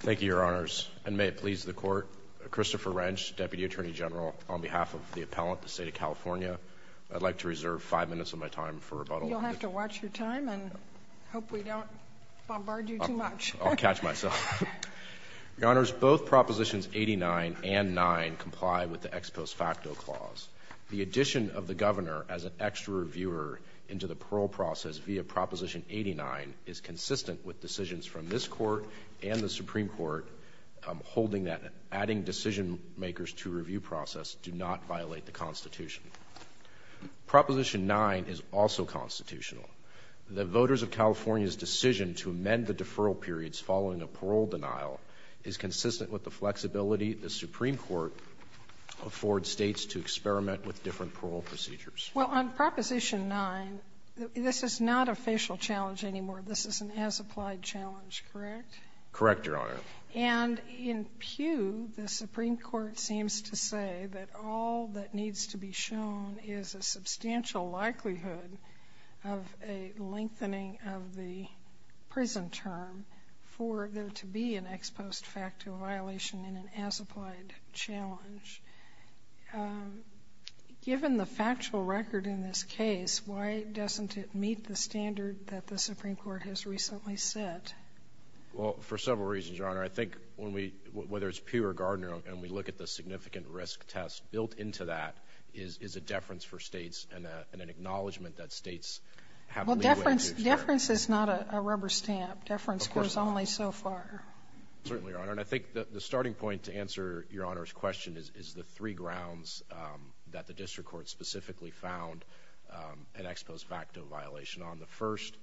Thank you, Your Honors. And may it please the Court, Christopher Wrench, Deputy Attorney General, on behalf of the Appellant, the State of California, I'd like to reserve five minutes of my time for rebuttal. You'll have to watch your time and hope we don't bombard you too much. I'll catch myself. Your Honors, both Propositions 89 and 9 comply with the ex post facto clause. The addition of the Governor as an extra reviewer into the parole process via Proposition 89 is consistent with decisions from this Court and the Supreme Court holding that adding decision makers to review process do not violate the Constitution. Proposition 9 is also constitutional. The voters of California's decision to amend the deferral periods following a parole denial is consistent with the flexibility the Supreme Court affords States to experiment with different parole procedures. Well, on Proposition 9, this is not a facial challenge anymore. This is an as-applied challenge, correct? Correct, Your Honor. And in Pew, the Supreme Court seems to say that all that needs to be shown is a substantial likelihood of a lengthening of the prison term for there to be an ex post facto violation in an as-applied challenge. Given the factual record in this case, why doesn't it meet the standard that the Supreme Court has recently set? Well, for several reasons, Your Honor. I think when we, whether it's Pew or Gardner, and we look at the significant risk test built into that is a deference for States and an acknowledgment that States have to lead the way. Deference is not a rubber stamp. Deference goes only so far. Certainly, Your Honor. And I think the starting point to answer Your Honor's question is the three grounds that the District Court specifically found an ex post facto violation on. The first,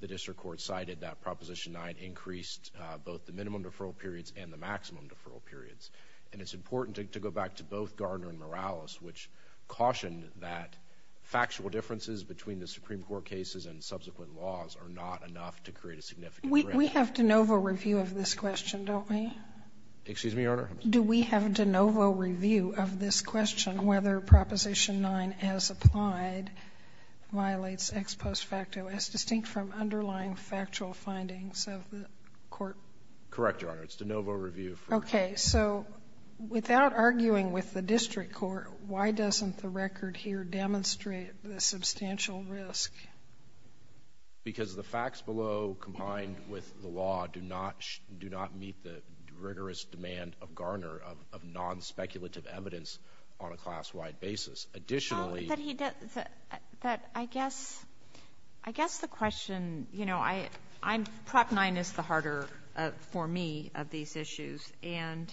the District Court cited that Proposition 9 increased both the minimum deferral periods and the maximum deferral periods. And it's important to go back to both Gardner and Morales, which cautioned that factual differences between the Supreme Court cases and subsequent laws are not enough to create a significant risk. We have de novo review of this question, don't we? Excuse me, Your Honor? Do we have de novo review of this question, whether Proposition 9 as applied violates ex post facto as distinct from underlying factual findings of the court? Correct, Your Honor. It's de novo review. Okay. So without arguing with the District Court, why doesn't the record here demonstrate the substantial risk? Because the facts below combined with the law do not meet the rigorous demand of Gardner of non-speculative evidence on a class-wide basis. Additionally— But I guess the question, you know, Prop 9 is the harder for me of these issues. And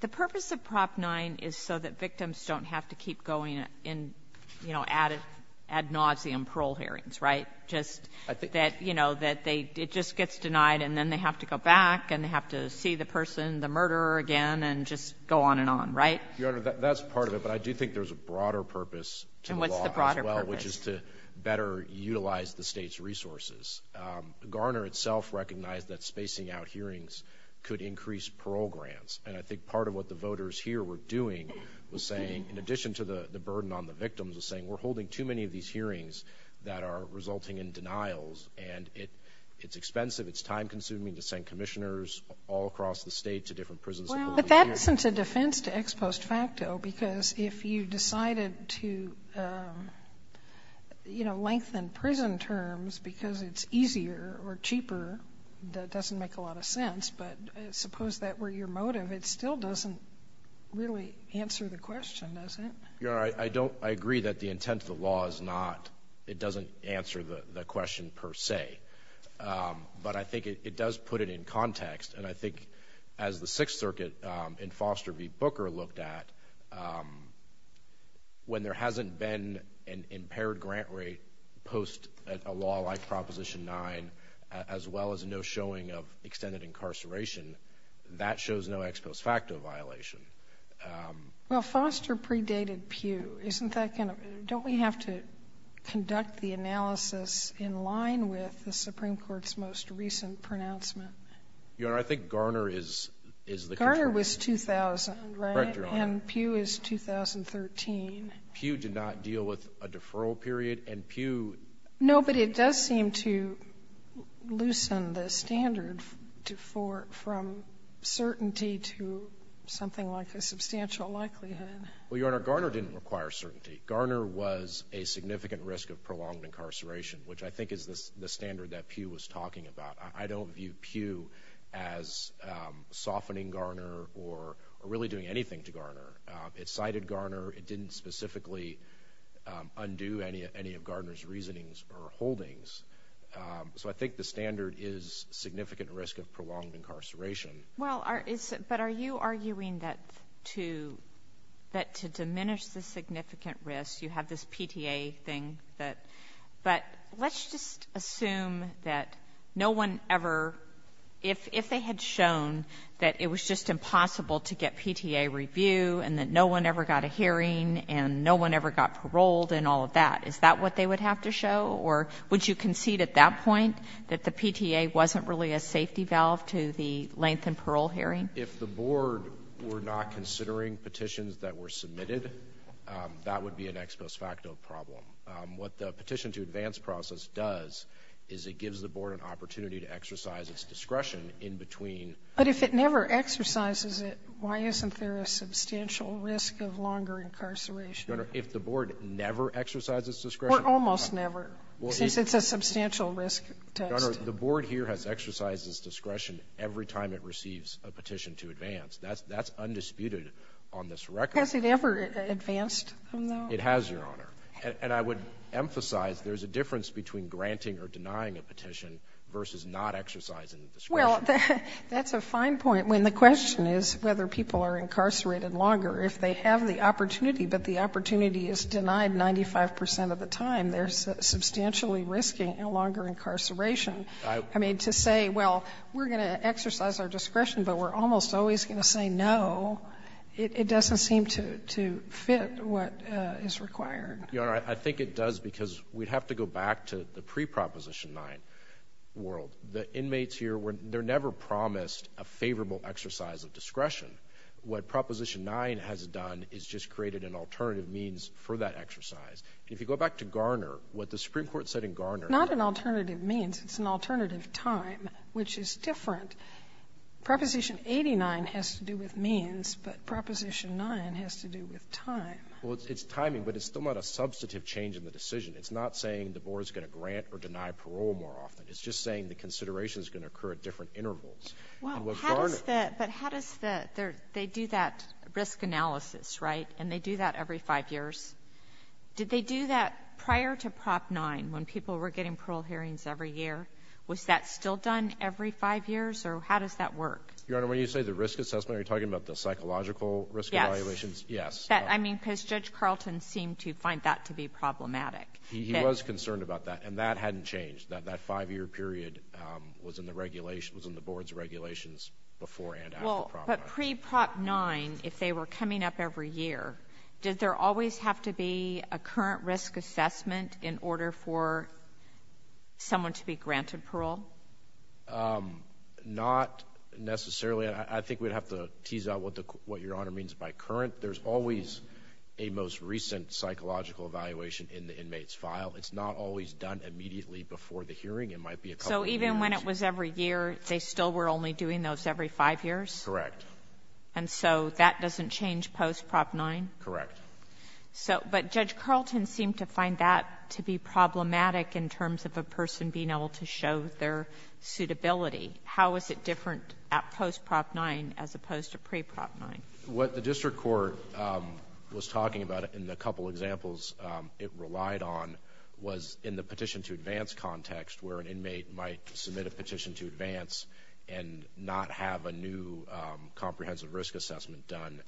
the purpose of Prop 9 is so that victims don't have to keep going in, you know, ad nauseum parole hearings, right? Just that, you know, it just gets denied and then they have to go back and they have to see the person, the murderer again, and just go on and on, right? Your Honor, that's part of it, but I do think there's a broader purpose to the law. And what's the broader purpose? Which is to better utilize the state's resources. Gardner itself recognized that spacing out hearings could increase parole grants. And I think part of what the voters here were doing was saying, in addition to the burden on the victims, was saying we're holding too many of these hearings that are resulting in denials. And it's expensive, it's time-consuming to send commissioners all across the state to different prisons. Well, but that isn't a defense to ex post facto, because if you decided to, you know, lengthen prison terms because it's easier or cheaper, that doesn't make a lot of sense. But suppose that were your motive, it still doesn't really answer the question, does it? Your Honor, I don't—I agree that the intent of the law is not—it doesn't answer the question per se. But I think it does put it in context. And I think as the Sixth Circuit in Foster v. Booker looked at, when there hasn't been an impaired grant rate post a law like Proposition 9, as well as no showing of extended incarceration, that shows no ex post facto violation. Well, Foster predated Pew. Isn't that kind of—don't we have to conduct the analysis in line with the Supreme Court's most recent pronouncement? Your Honor, I think Garner is— Garner was 2000, right? Correct, Your Honor. And Pew is 2013. Pew did not deal with a deferral period, and Pew— Well, Your Honor, Garner didn't require certainty. Garner was a significant risk of prolonged incarceration, which I think is the standard that Pew was talking about. I don't view Pew as softening Garner or really doing anything to Garner. It cited Garner. It didn't specifically undo any of Garner's reasonings or holdings. So I think the standard is significant risk of prolonged incarceration. Well, but are you arguing that to diminish the significant risk, you have this PTA thing that— but let's just assume that no one ever—if they had shown that it was just impossible to get PTA review and that no one ever got a hearing and no one ever got paroled and all of that, is that what they would have to show? Or would you concede at that point that the PTA wasn't really a safety valve to the length and parole hearing? If the board were not considering petitions that were submitted, that would be an ex post facto problem. What the petition to advance process does is it gives the board an opportunity to exercise its discretion in between— But if it never exercises it, why isn't there a substantial risk of longer incarceration? Your Honor, if the board never exercises discretion— Almost never, since it's a substantial risk test. Your Honor, the board here has exercised its discretion every time it receives a petition to advance. That's undisputed on this record. Has it ever advanced, though? It has, Your Honor. And I would emphasize there's a difference between granting or denying a petition versus not exercising discretion. Well, that's a fine point when the question is whether people are incarcerated longer if they have the opportunity, but the opportunity is denied 95 percent of the time. They're substantially risking longer incarceration. I mean, to say, well, we're going to exercise our discretion, but we're almost always going to say no, it doesn't seem to fit what is required. Your Honor, I think it does because we'd have to go back to the pre-Proposition 9 world. The inmates here, they're never promised a favorable exercise of discretion. What Proposition 9 has done is just created an alternative means for that exercise. If you go back to Garner, what the Supreme Court said in Garner— Not an alternative means. It's an alternative time, which is different. Proposition 89 has to do with means, but Proposition 9 has to do with time. Well, it's timing, but it's still not a substantive change in the decision. It's not saying the board is going to grant or deny parole more often. It's just saying the consideration is going to occur at different intervals. But how does the—they do that risk analysis, right? And they do that every five years. Did they do that prior to Prop 9 when people were getting parole hearings every year? Was that still done every five years, or how does that work? Your Honor, when you say the risk assessment, are you talking about the psychological risk evaluations? Yes. Yes. I mean, because Judge Carlton seemed to find that to be problematic. He was concerned about that, and that hadn't changed. That five-year period was in the board's regulations before and after Prop 9. Well, but pre-Prop 9, if they were coming up every year, did there always have to be a current risk assessment in order for someone to be granted parole? Not necessarily. I think we'd have to tease out what Your Honor means by current. There's always a most recent psychological evaluation in the inmate's file. It's not always done immediately before the hearing. It might be a couple of years. So even when it was every year, they still were only doing those every five years? Correct. And so that doesn't change post-Prop 9? Correct. But Judge Carlton seemed to find that to be problematic in terms of a person being able to show their suitability. How is it different at post-Prop 9 as opposed to pre-Prop 9? What the district court was talking about in the couple examples it relied on was in the petition to advance context where an inmate might submit a petition to advance and not have a new comprehensive risk assessment done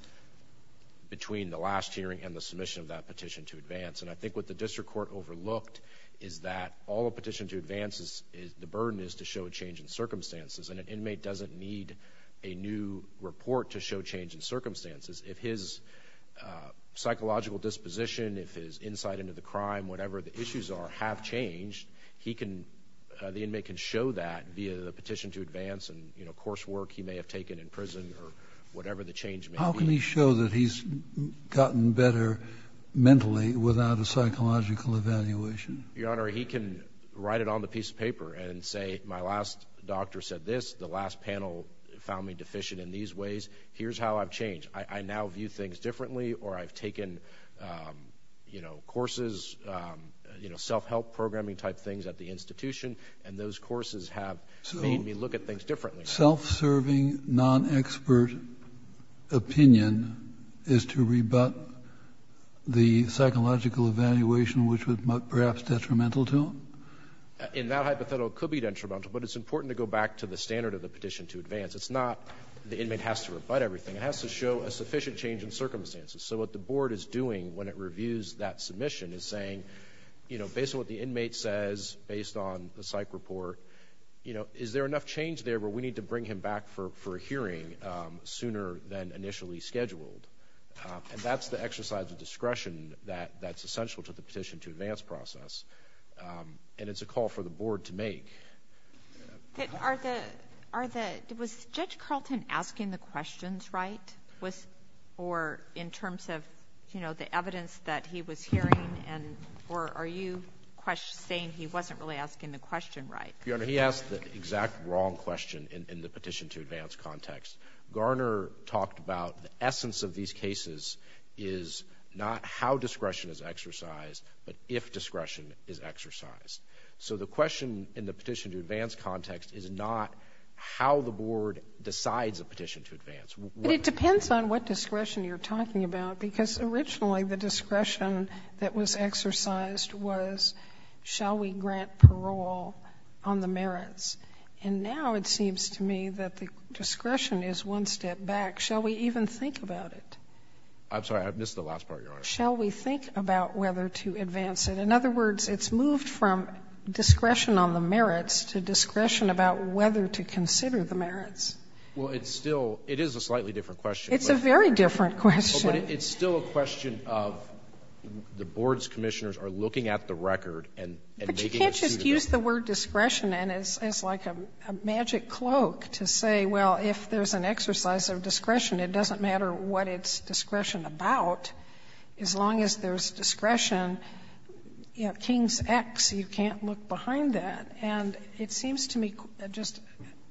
between the last hearing and the submission of that petition to advance. And I think what the district court overlooked is that all a petition to advance, the burden is to show a change in circumstances, and an inmate doesn't need a new report to show change in circumstances. If his psychological disposition, if his insight into the crime, whatever the issues are, have changed, the inmate can show that via the petition to advance and coursework he may have taken in prison or whatever the change may be. How can he show that he's gotten better mentally without a psychological evaluation? Your Honor, he can write it on the piece of paper and say, my last doctor said this, the last panel found me deficient in these ways, here's how I've changed. I now view things differently or I've taken courses, self-help programming type things at the institution, and those courses have made me look at things differently. So self-serving, non-expert opinion is to rebut the psychological evaluation which was perhaps detrimental to him? In that hypothetical, it could be detrimental, but it's important to go back to the standard of the petition to advance. It's not the inmate has to rebut everything. It has to show a sufficient change in circumstances. So what the board is doing when it reviews that submission is saying, based on what the inmate says, based on the psych report, is there enough change there where we need to bring him back for a hearing sooner than initially scheduled? And that's the exercise of discretion that's essential to the petition to advance process, and it's a call for the board to make. Was Judge Carlton asking the questions right, or in terms of the evidence that he was hearing, or are you saying he wasn't really asking the question right? Your Honor, he asked the exact wrong question in the petition to advance context. Garner talked about the essence of these cases is not how discretion is exercised, but if discretion is exercised. So the question in the petition to advance context is not how the board decides a petition to advance. It depends on what discretion you're talking about, because originally the discretion that was exercised was, shall we grant parole on the merits? And now it seems to me that the discretion is one step back. Shall we even think about it? I'm sorry. I missed the last part, Your Honor. Shall we think about whether to advance it? In other words, it's moved from discretion on the merits to discretion about whether to consider the merits. Well, it's still — it is a slightly different question. It's a very different question. But it's still a question of the board's commissioners are looking at the record and making it suitable. You use the word discretion, and it's like a magic cloak to say, well, if there's an exercise of discretion, it doesn't matter what it's discretion about. As long as there's discretion, you know, King's X, you can't look behind that. And it seems to me just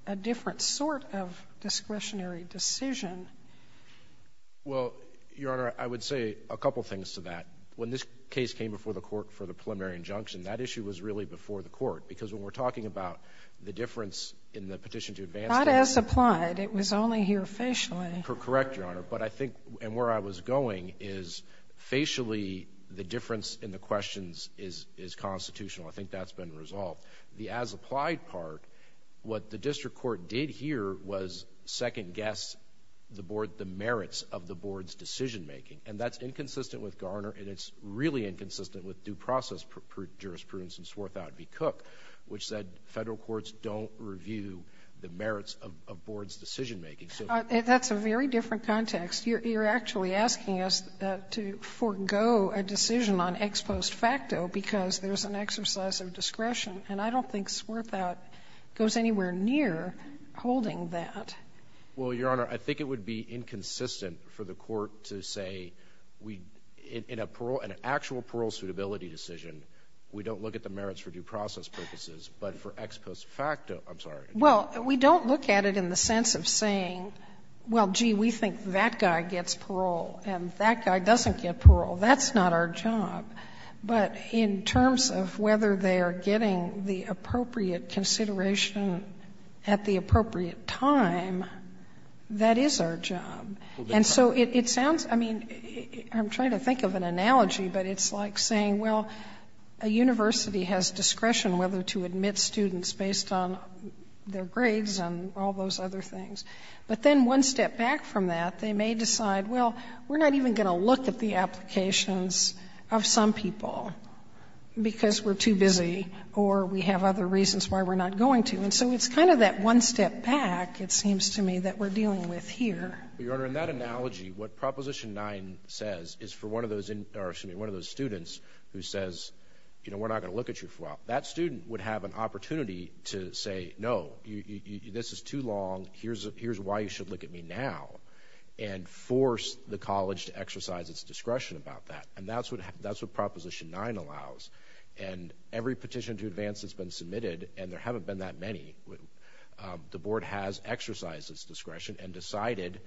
a different sort of discretionary decision. Well, Your Honor, I would say a couple things to that. When this case came before the court for the preliminary injunction, that issue was really before the court, because when we're talking about the difference in the petition to advance it — Not as applied. It was only here facially. Correct, Your Honor. But I think — and where I was going is facially the difference in the questions is constitutional. I think that's been resolved. The as applied part, what the district court did here was second-guess the board — the merits of the board's decision-making. And that's inconsistent with Garner, and it's really inconsistent with due process jurisprudence in Swarthout v. Cook, which said Federal courts don't review the merits of a board's decision-making. That's a very different context. You're actually asking us to forego a decision on ex post facto because there's an exercise of discretion. And I don't think Swarthout goes anywhere near holding that. Well, Your Honor, I think it would be inconsistent for the court to say, in an actual parole suitability decision, we don't look at the merits for due process purposes, but for ex post facto — I'm sorry. Well, we don't look at it in the sense of saying, well, gee, we think that guy gets parole, and that guy doesn't get parole. That's not our job. But in terms of whether they are getting the appropriate consideration at the appropriate time, that is our job. And so it sounds — I mean, I'm trying to think of an analogy, but it's like saying, well, a university has discretion whether to admit students based on their grades and all those other things. But then one step back from that, they may decide, well, we're not even going to look at the applications of some people because we're too busy or we have other reasons why we're not going to. And so it's kind of that one step back, it seems to me, that we're dealing with here. Well, Your Honor, in that analogy, what Proposition 9 says is for one of those — or, excuse me, one of those students who says, you know, we're not going to look at you for a while. That student would have an opportunity to say, no, this is too long, here's why you should look at me now, and force the college to exercise its discretion about that. And that's what Proposition 9 allows. And every petition to advance has been submitted, and there haven't been that many. The board has exercised its discretion and decided,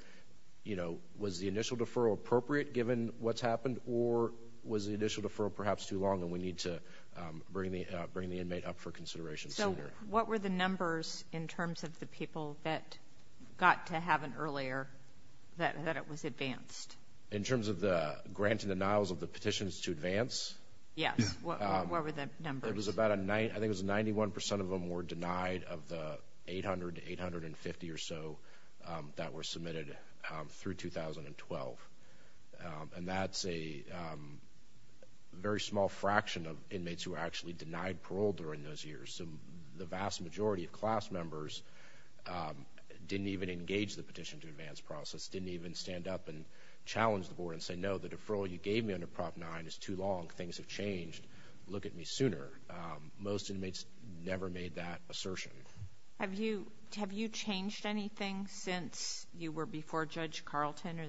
you know, was the initial deferral appropriate, given what's happened, or was the initial deferral perhaps too long and we need to bring the inmate up for consideration sooner? So what were the numbers in terms of the people that got to have an earlier, that it was advanced? In terms of the grant and denials of the petitions to advance? Yes, what were the numbers? I think it was 91 percent of them were denied of the 800 to 850 or so that were submitted through 2012. And that's a very small fraction of inmates who were actually denied parole during those years. So the vast majority of class members didn't even engage the petition to advance process, didn't even stand up and challenge the board and say, no, the deferral you gave me under Prop 9 is too long, things have changed, look at me sooner. Most inmates never made that assertion. Have you changed anything since you were before Judge Carlton?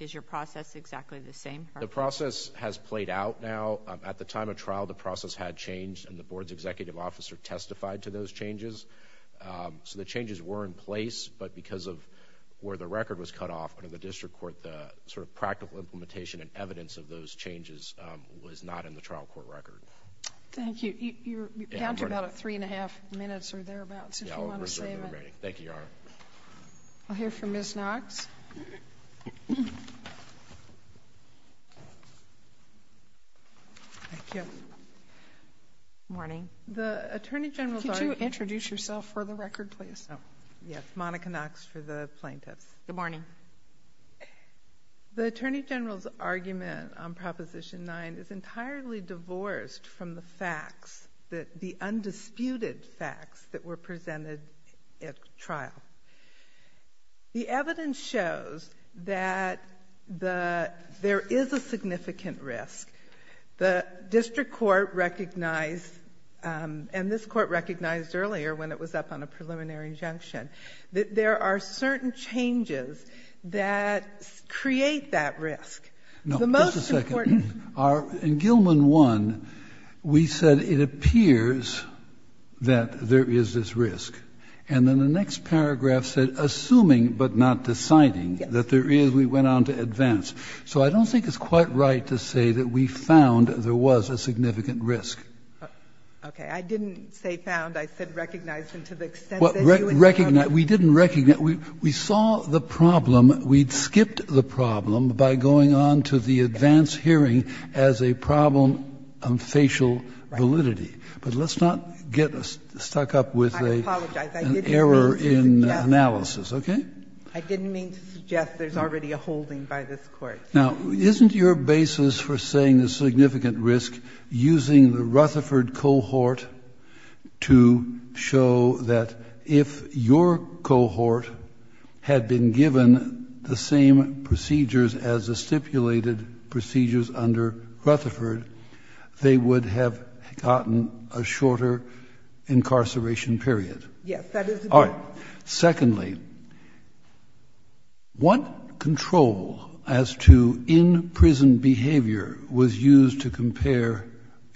Is your process exactly the same? The process has played out now. At the time of trial, the process had changed, and the board's executive officer testified to those changes. So the changes were in place, but because of where the record was cut off, and of the district court, the sort of practical implementation and evidence of those changes was not in the trial court record. Thank you. You're down to about three and a half minutes or thereabouts if you want to save it. Thank you, Your Honor. I'll hear from Ms. Knox. Good morning. The Attorney General is already here. Could you introduce yourself for the record, please? Yes, Monica Knox for the plaintiffs. Good morning. The Attorney General's argument on Proposition 9 is entirely divorced from the facts, the undisputed facts that were presented at trial. The evidence shows that there is a significant risk. The district court recognized, and this court recognized earlier when it was up on a preliminary injunction, that there are certain changes that create that risk. No, just a second. In Gilman 1, we said it appears that there is this risk. And then the next paragraph said, assuming but not deciding that there is, we went on to advance. So I don't think it's quite right to say that we found there was a significant risk. Okay. I didn't say found. I said recognized. And to the extent that you encountered it. We didn't recognize. We saw the problem. We skipped the problem by going on to the advance hearing as a problem of facial validity. But let's not get stuck up with an error in analysis. Okay? I didn't mean to suggest there's already a holding by this Court. Now, isn't your basis for saying there's significant risk using the Rutherford cohort to show that if your cohort had been given the same procedures as the stipulated procedures under Rutherford, they would have gotten a shorter incarceration period? Yes, that is correct. Secondly, what control as to in-prison behavior was used to compare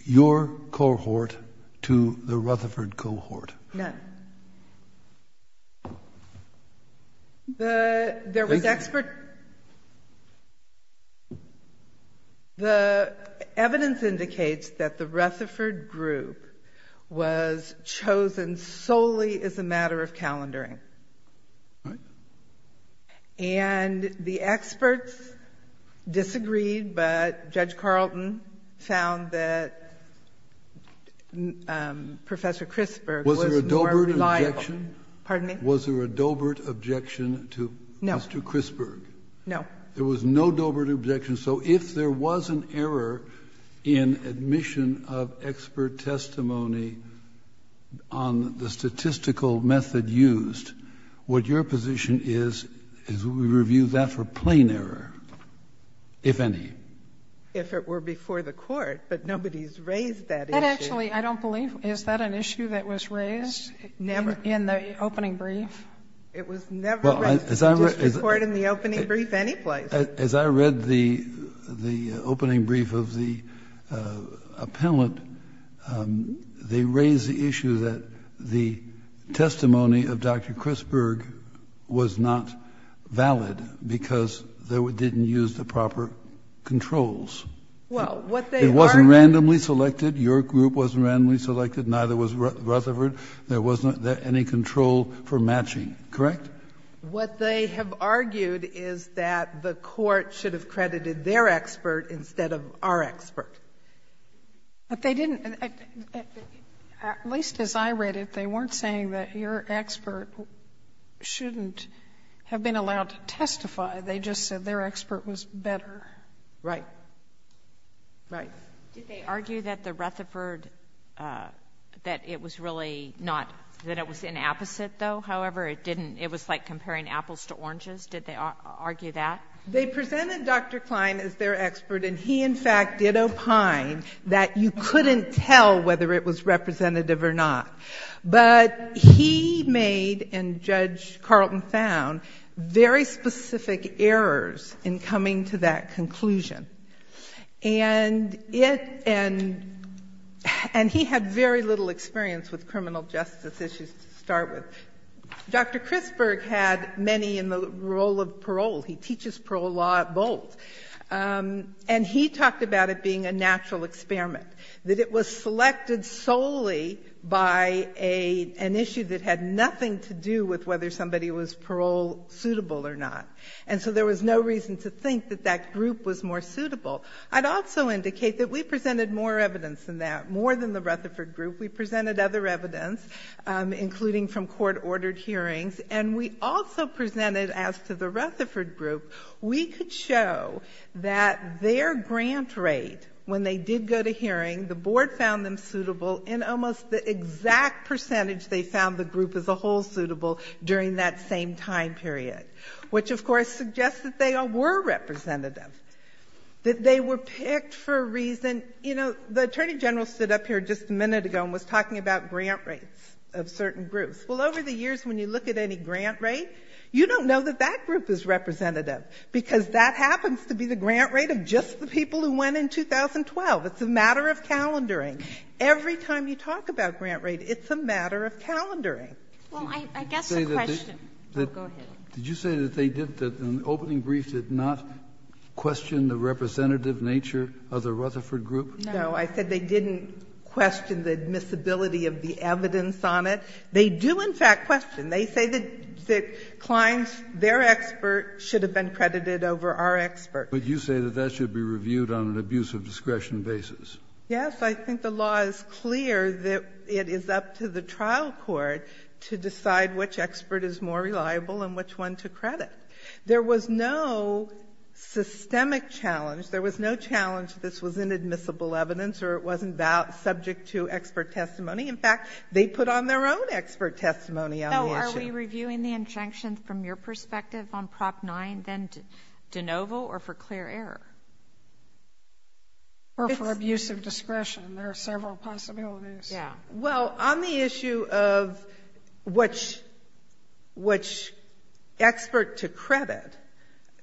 your cohort to the Rutherford cohort? None. Thank you. The evidence indicates that the Rutherford group was chosen solely as a matter of calendaring. All right. And the experts disagreed, but Judge Carlton found that Professor Chrisburg was more reliable. Was there a Dobert objection? Pardon me? Was there a Dobert objection to Mr. Chrisburg? No. There was no Dobert objection. So if there was an error in admission of expert testimony on the statistical method used, what your position is, is we review that for plain error, if any. If it were before the Court, but nobody's raised that issue. Actually, I don't believe. Is that an issue that was raised? Never. In the opening brief? It was never raised in the district court in the opening brief any place. As I read the opening brief of the appellant, they raised the issue that the testimony of Dr. Chrisburg was not valid because they didn't use the proper controls. It wasn't randomly selected. Your group wasn't randomly selected. Neither was Rutherford. There wasn't any control for matching. Correct? What they have argued is that the Court should have credited their expert instead of our expert. But they didn't. At least as I read it, they weren't saying that your expert shouldn't have been allowed to testify. They just said their expert was better. Right. Right. Did they argue that the Rutherford, that it was really not, that it was inapposite, though? However, it didn't, it was like comparing apples to oranges? Did they argue that? They presented Dr. Klein as their expert, and he, in fact, did opine that you couldn't tell whether it was representative or not. But he made, and Judge Carlton found, very specific errors in coming to that conclusion. And it, and he had very little experience with criminal justice issues to start with. Dr. Chrisburg had many in the role of parole. He teaches parole law at Bolt. And he talked about it being a natural experiment, that it was selected solely by an issue that had nothing to do with whether somebody was parole-suitable or not. And so there was no reason to think that that group was more suitable. I'd also indicate that we presented more evidence than that, more than the Rutherford group. We presented other evidence, including from court-ordered hearings. And we also presented, as to the Rutherford group, we could show that their grant rate, when they did go to hearing, the board found them suitable in almost the exact percentage they found the group as a whole suitable during that same time period, which, of course, suggests that they were representative, that they were picked for a reason. You know, the Attorney General stood up here just a minute ago and was talking about grant rates of certain groups. Well, over the years, when you look at any grant rate, you don't know that that group is representative, because that happens to be the grant rate of just the people who went in 2012. It's a matter of calendaring. Every time you talk about grant rate, it's a matter of calendaring. Well, I guess the question go ahead. Did you say that they did, that the opening brief did not question the representative nature of the Rutherford group? No. I said they didn't question the admissibility of the evidence on it. They do, in fact, question. They say that Clines, their expert, should have been credited over our expert. But you say that that should be reviewed on an abuse of discretion basis. Yes. I think the law is clear that it is up to the trial court to decide which expert is more reliable and which one to credit. There was no systemic challenge. There was no challenge that this was inadmissible evidence or it wasn't subject to expert testimony. In fact, they put on their own expert testimony on the issue. So are we reviewing the injunctions from your perspective on Prop 9, then, de novo or for clear error? Or for abuse of discretion. There are several possibilities. Yeah. Well, on the issue of which expert to credit,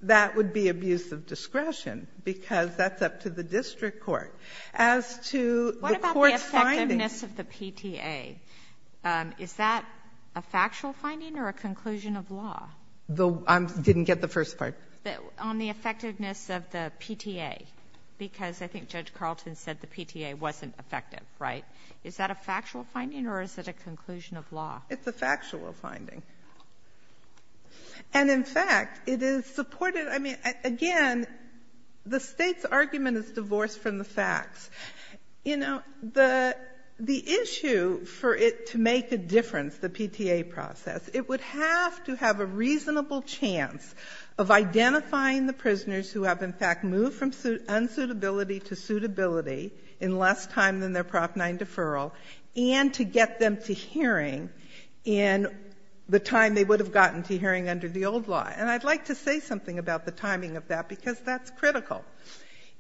that would be abuse of discretion because that's up to the district court. As to the court's findings — What about the effectiveness of the PTA? Is that a factual finding or a conclusion of law? I didn't get the first part. On the effectiveness of the PTA. Because I think Judge Carlton said the PTA wasn't effective, right? Is that a factual finding or is it a conclusion of law? It's a factual finding. And, in fact, it is supported. I mean, again, the State's argument is divorced from the facts. You know, the issue for it to make a difference, the PTA process, it would have to have a reasonable chance of identifying the prisoners who have, in fact, moved from unsuitability to suitability in less time than their Prop 9 deferral and to get them to hearing in the time they would have gotten to hearing under the old law. And I'd like to say something about the timing of that because that's critical.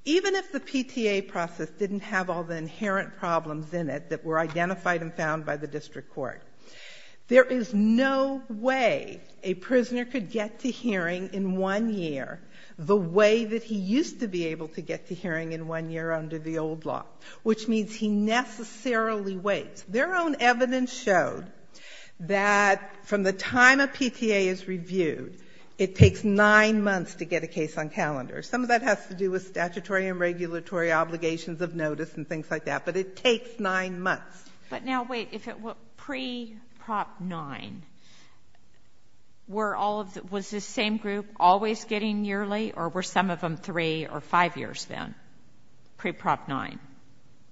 Even if the PTA process didn't have all the inherent problems in it that were identified and found by the district court, there is no way a prisoner could get to hearing in one year the way that he used to be able to get to hearing in one year under the old law, which means he necessarily waits. Their own evidence showed that from the time a PTA is reviewed, it takes nine months to get a case on calendar. Some of that has to do with statutory and regulatory obligations of notice and things like that, but it takes nine months. But now, wait, if it were pre-Prop 9, was this same group always getting yearly or were some of them three or five years then, pre-Prop 9?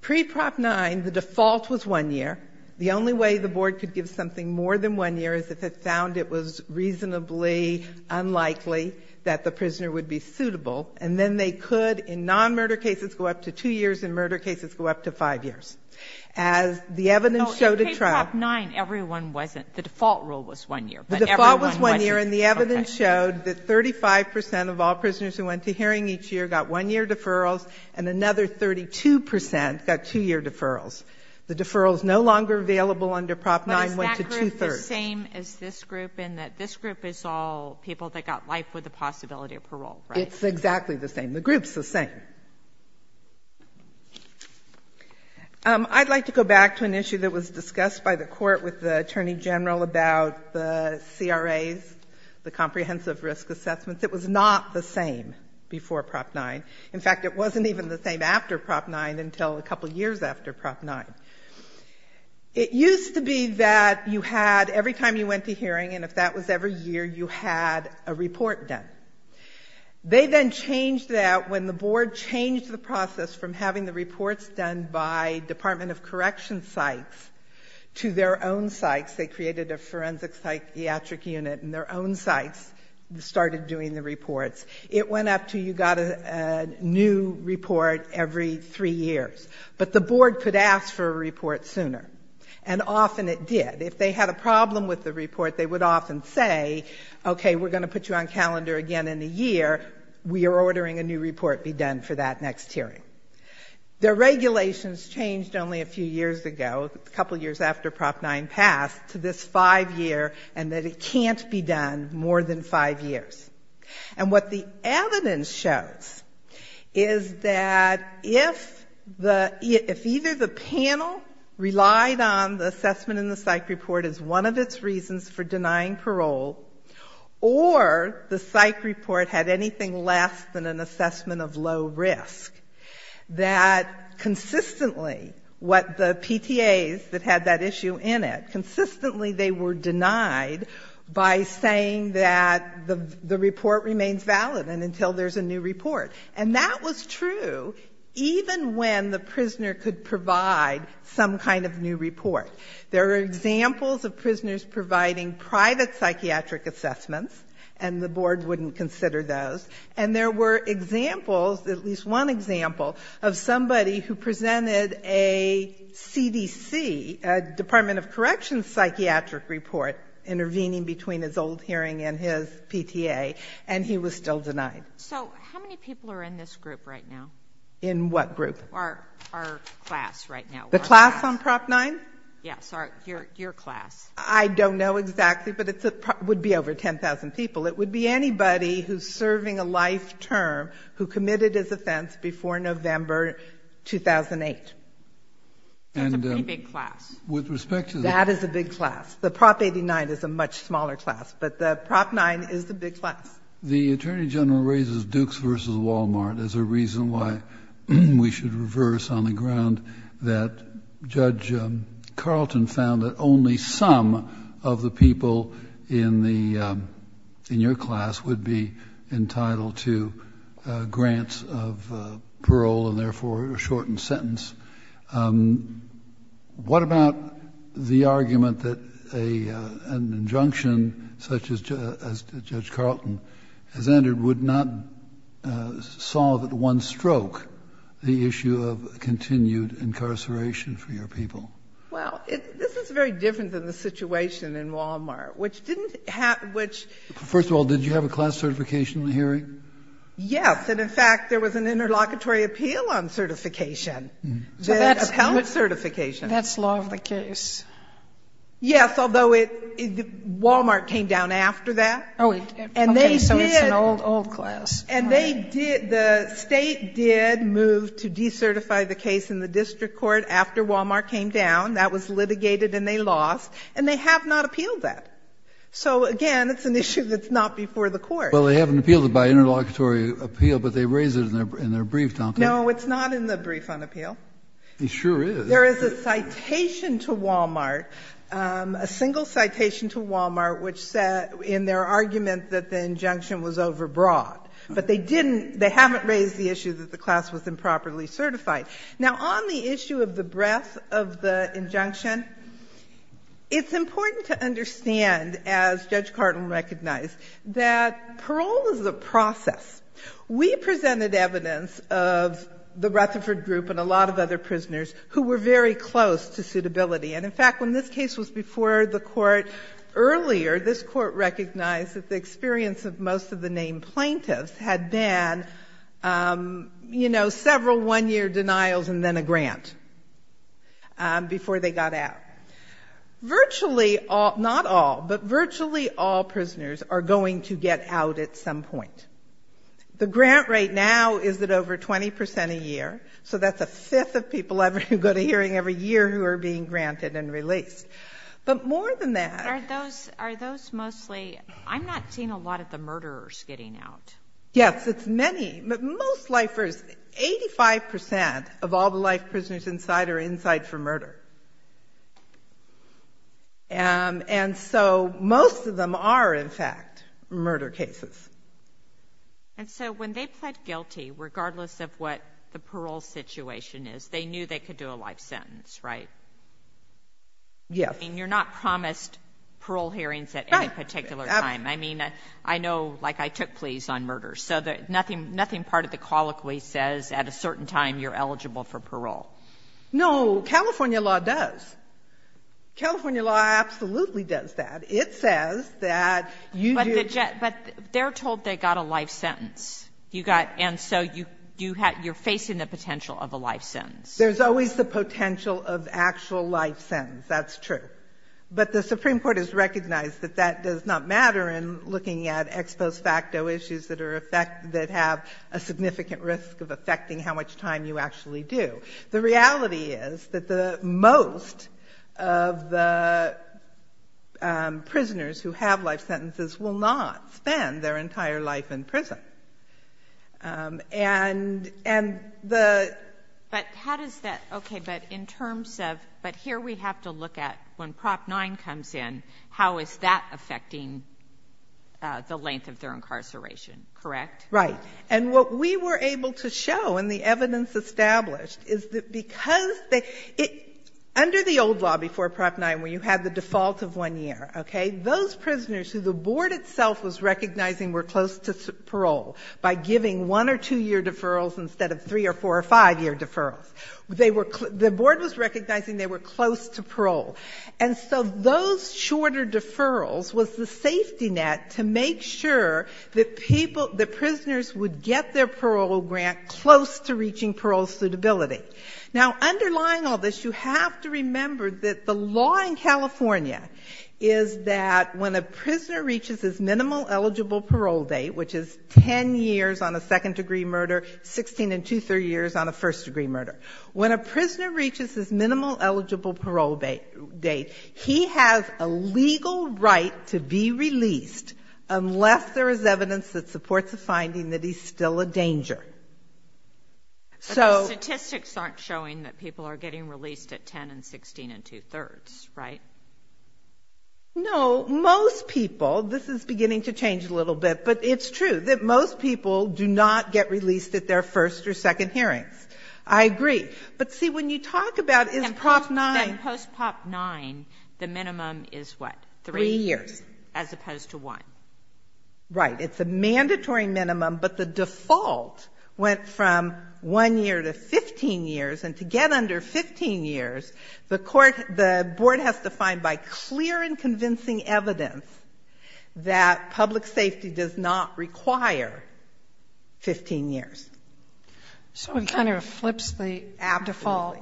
Pre-Prop 9, the default was one year. The only way the board could give something more than one year is if it found it was reasonably unlikely that the prisoner would be suitable, and then they could in non-murder cases go up to two years and murder cases go up to five years. As the evidence showed at trial... Oh, in pre-Prop 9, everyone wasn't. The default rule was one year, but everyone wasn't. The default was one year, and the evidence showed that 35 percent of all prisoners who went to hearing each year got one-year deferrals, and another 32 percent got two-year deferrals. The deferrals no longer available under Prop 9 went to two-thirds. But is that group the same as this group in that this group is all people that got life with the possibility of parole, right? It's exactly the same. The group's the same. I'd like to go back to an issue that was discussed by the court with the Attorney General about the CRAs, the comprehensive risk assessments. It was not the same before Prop 9. In fact, it wasn't even the same after Prop 9 until a couple of years after Prop 9. It used to be that you had, every time you went to hearing, and if that was every year, you had a report done. They then changed that when the board changed the process from having the reports done by Department of Correction sites to their own sites. They created a forensic psychiatric unit in their own sites and started doing the reports. It went up to you got a new report every three years. But the board could ask for a report sooner, and often it did. If they had a problem with the report, they would often say, okay, we're going to put you on calendar again in a year. We are ordering a new report be done for that next hearing. Their regulations changed only a few years ago, a couple of years after Prop 9 passed, to this five-year, and that it can't be done more than five years. And what the evidence shows is that if either the panel relied on the assessment in the psych report as one of its reasons for denying parole, or the psych report had anything less than an assessment of low risk, that consistently what the PTAs that had that issue in it, consistently they were denied by saying that the report remains valid and until there's a new report. And that was true even when the prisoner could provide some kind of new report. There are examples of prisoners providing private psychiatric assessments, and the board wouldn't consider those. And there were examples, at least one example, of somebody who presented a CDC, a Department of Corrections psychiatric report, intervening between his old hearing and his PTA, and he was still denied. So how many people are in this group right now? In what group? Our class right now. The class on Prop 9? Yes, your class. I don't know exactly, but it would be over 10,000 people. It would be anybody who's serving a life term who committed his offense before November 2008. That's a pretty big class. That is a big class. The Prop 89 is a much smaller class, but the Prop 9 is the big class. The Attorney General raises Dukes v. Walmart as a reason why we should reverse on the ground that Judge Carlton found that only some of the people in your class would be entitled to grants of parole and, therefore, a shortened sentence. What about the argument that an injunction such as Judge Carlton has entered would not solve at one stroke the issue of continued incarceration for your people? Well, this is very different than the situation in Walmart, which didn't have ‑‑ First of all, did you have a class certification in the hearing? Yes, and, in fact, there was an interlocutory appeal on certification, the appellate certification. That's law of the case. Yes, although Walmart came down after that. Oh, okay. So it's an old, old class. And they did ‑‑ the State did move to decertify the case in the district court after Walmart came down. That was litigated and they lost. And they have not appealed that. So, again, it's an issue that's not before the court. Well, they haven't appealed it by interlocutory appeal, but they raise it in their brief, don't they? No, it's not in the brief on appeal. It sure is. There is a citation to Walmart, a single citation to Walmart, which said in their argument that the injunction was overbroad. But they didn't ‑‑ they haven't raised the issue that the class was improperly certified. Now, on the issue of the breadth of the injunction, it's important to understand, as Judge Cardin recognized, that parole is a process. We presented evidence of the Rutherford group and a lot of other prisoners who were very close to suitability. And, in fact, when this case was before the court earlier, this court recognized that the experience of most of the named plaintiffs had been, you know, several one‑year denials and then a grant before they got out. Virtually all ‑‑ not all, but virtually all prisoners are going to get out at some point. The grant rate now is at over 20 percent a year, so that's a fifth of people who go to hearing every year who are being granted and released. But more than that ‑‑ Are those mostly ‑‑ I'm not seeing a lot of the murderers getting out. Yes, it's many. Most lifers, 85 percent of all the life prisoners inside are inside for murder. And so most of them are, in fact, murder cases. And so when they pled guilty, regardless of what the parole situation is, they knew they could do a life sentence, right? Yes. I mean, you're not promised parole hearings at any particular time. Right. I mean, I know, like, I took pleas on murders, so nothing part of the colloquy says at a certain time you're eligible for parole. No, California law does. California law absolutely does that. It says that you do ‑‑ But they're told they got a life sentence. You got ‑‑ and so you're facing the potential of a life sentence. There's always the potential of actual life sentence. That's true. But the Supreme Court has recognized that that does not matter in looking at ex post facto issues that have a significant risk of affecting how much time you actually do. The reality is that most of the prisoners who have life sentences will not spend their entire life in prison. And the ‑‑ But how does that ‑‑ okay, but in terms of ‑‑ but here we have to look at when Prop 9 comes in, how is that affecting the length of their incarceration. Correct? Right. And what we were able to show in the evidence established is that because they ‑‑ under the old law before Prop 9 where you had the default of one year, okay, those prisoners who the Board itself was recognizing were close to parole by giving one or two year deferrals instead of three or four or five year deferrals, they were ‑‑ the Board was recognizing they were close to parole. And so those shorter deferrals was the safety net to make sure that people, that prisoners would get their parole grant close to reaching parole suitability. Now, underlying all this, you have to remember that the law in California is that when a prisoner reaches his minimal eligible parole date, which is 10 years on a second‑degree murder, 16 and two‑thirds years on a first‑degree murder, when a prisoner reaches his minimal eligible parole date, he has a legal right to be released unless there is evidence that supports a finding that he's still a danger. So ‑‑ But the statistics aren't showing that people are getting released at 10 and 16 and two‑thirds, right? No. Most people, this is beginning to change a little bit, but it's true that most people do not get released at their first or second hearings. I agree. But see, when you talk about is Prop 9 ‑‑ Then post‑Pop 9, the minimum is what? Three years. As opposed to one. Right. It's a mandatory minimum, but the default went from one year to 15 years, and to get under 15 years, the board has to find by clear and convincing evidence that public safety does not require 15 years. So it kind of flips the default.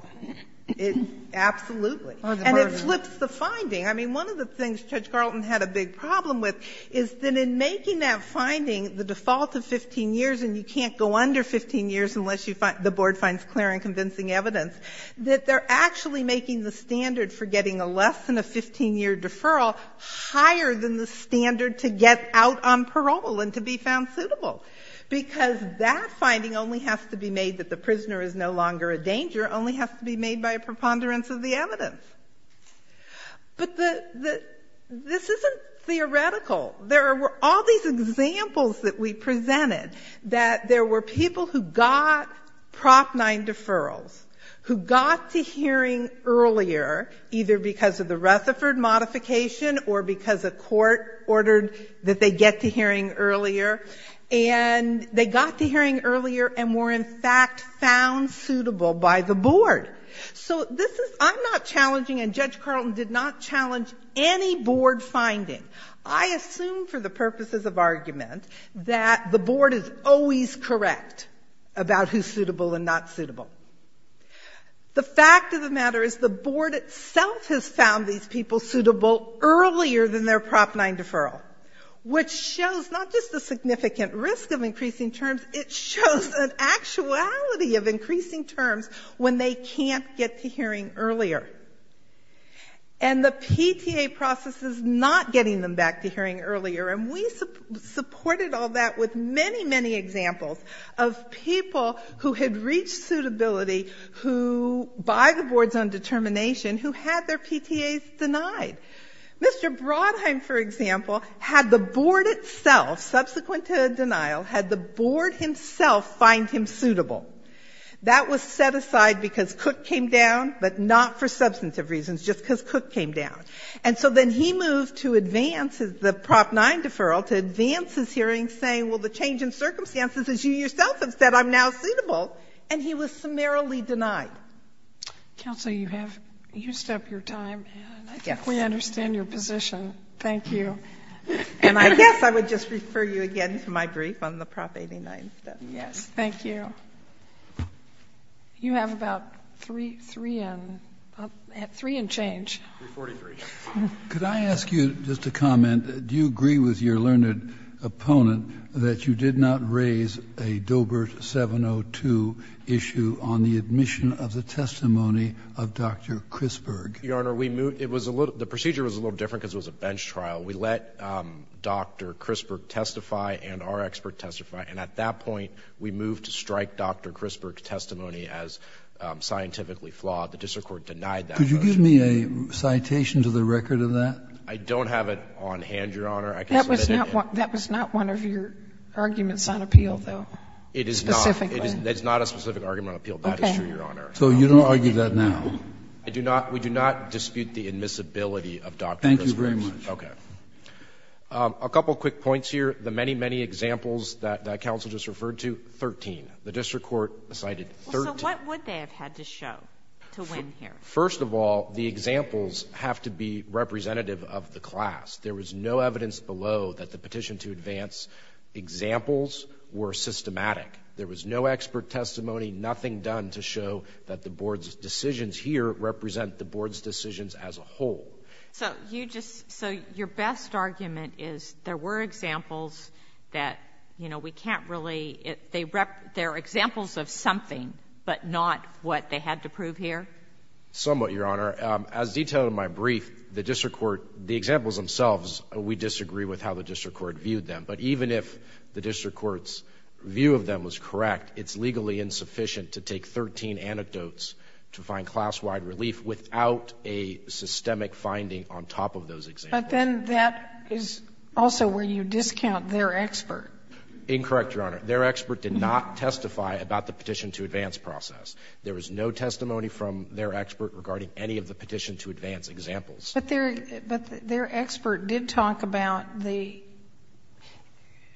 Absolutely. And it flips the finding. I mean, one of the things Judge Carlton had a big problem with is that in making that finding, the default of 15 years, and you can't go under 15 years unless the board finds clear and convincing evidence, that they're actually making the standard for getting a less than a 15‑year deferral higher than the standard to get out on parole and to be found suitable, because that finding only has to be made that the prisoner is no longer a danger, only has to be made by a preponderance of the evidence. But this isn't theoretical. There were all these examples that we presented, that there were people who got Prop 9 deferrals, who got to hearing earlier, either because of the Rutherford modification or because a court ordered that they get to hearing earlier, and they got to hearing earlier and were, in fact, found suitable by the board. So this is ‑‑ I'm not challenging, and Judge Carlton did not challenge any board finding. I assume for the purposes of argument that the board is always correct about who's suitable and not suitable. The fact of the matter is the board itself has found these people suitable earlier than their Prop 9 deferral, which shows not just the significant risk of increasing terms, it shows an actuality of increasing terms when they can't get to hearing earlier. And the PTA process is not getting them back to hearing earlier. And we supported all that with many, many examples of people who had reached suitability who, by the board's own determination, who had their PTAs denied. Mr. Brodheim, for example, had the board itself, subsequent to a denial, had the board himself find him suitable. That was set aside because Cook came down, but not for substantive reasons, just because Cook came down. And so then he moved to advance the Prop 9 deferral to advance his hearing, saying, well, the change in circumstances is you yourself have said I'm now suitable, and he was summarily denied. Sotomayor, you have used up your time, and I think we understand your position. Thank you. And I guess I would just refer you again to my brief on the Prop 89 stuff. Yes, thank you. You have about three in change. 343. Could I ask you just a comment? Do you agree with your learned opponent that you did not raise a Doebert 702 issue on the admission of the testimony of Dr. Crisberg? Your Honor, we moved the procedure was a little different because it was a bench trial. We let Dr. Crisberg testify and our expert testify, and at that point we moved to strike Dr. Crisberg's testimony as scientifically flawed. The district court denied that motion. Could you give me a citation to the record of that? I don't have it on hand, Your Honor. That was not one of your arguments on appeal, though, specifically. It is not a specific argument on appeal. That is true, Your Honor. So you don't argue that now? We do not dispute the admissibility of Dr. Crisberg. Thank you very much. Okay. A couple quick points here. The many, many examples that counsel just referred to, 13. The district court cited 13. So what would they have had to show to win here? First of all, the examples have to be representative of the class. There was no evidence below that the petition to advance examples were systematic. There was no expert testimony, nothing done to show that the board's decisions here represent the board's decisions as a whole. So you just — so your best argument is there were examples that, you know, we can't really — they're examples of something, but not what they had to prove here? Somewhat, Your Honor. As detailed in my brief, the district court — the examples themselves, we disagree with how the district court viewed them. But even if the district court's view of them was correct, it's legally insufficient to take 13 anecdotes to find class-wide relief without a systemic finding on top of those examples. But then that is also where you discount their expert. Incorrect, Your Honor. Their expert did not testify about the petition to advance process. There was no testimony from their expert regarding any of the petition to advance examples. But their expert did talk about the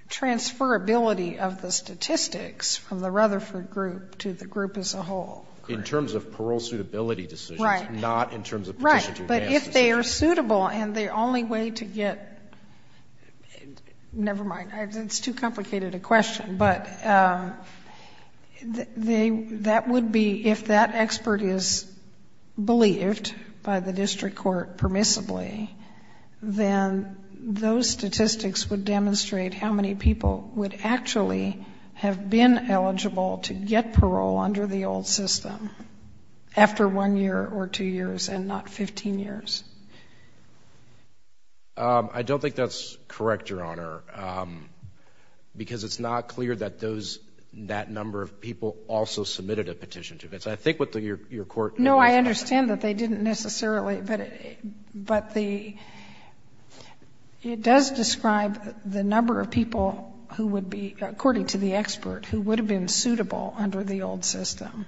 transferability of the statistics from the Rutherford group to the group as a whole. In terms of parole suitability decisions. Right. Not in terms of petition to advance decisions. Right. But if they are suitable and the only way to get — never mind. It's too complicated a question. But that would be — if that expert is believed by the district court permissibly, then those statistics would demonstrate how many people would actually have been eligible to get parole under the old system after one year or two years and not 15 years. I don't think that's correct, Your Honor. Because it's not clear that those — that number of people also submitted a petition to advance. I think what your court — No, I understand that they didn't necessarily. But the — it does describe the number of people who would be — according to the expert who would have been suitable under the old system.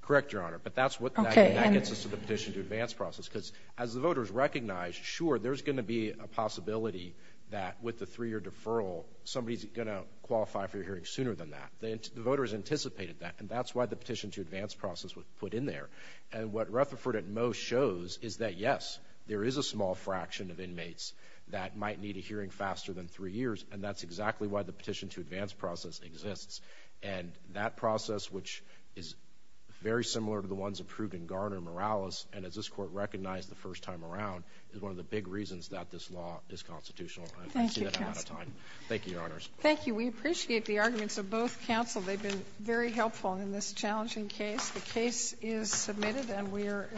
Correct, Your Honor. But that's what — Okay. And that gets us to the petition to advance process. Because as the voters recognize, sure, there's going to be a possibility that with the three-year deferral, somebody's going to qualify for your hearing sooner than that. The voters anticipated that. And that's why the petition to advance process was put in there. And what Rutherford at most shows is that, yes, there is a small fraction of inmates that might need a hearing faster than three years. And that's exactly why the petition to advance process exists. And that process, which is very similar to the ones approved in Garner and Morales, and as this court recognized the first time around, is one of the big reasons that this law is constitutional. Thank you, counsel. I see that I'm out of time. Thank you, Your Honors. Thank you. We appreciate the arguments of both counsel. They've been very helpful in this challenging case. The case is submitted and we are adjourned.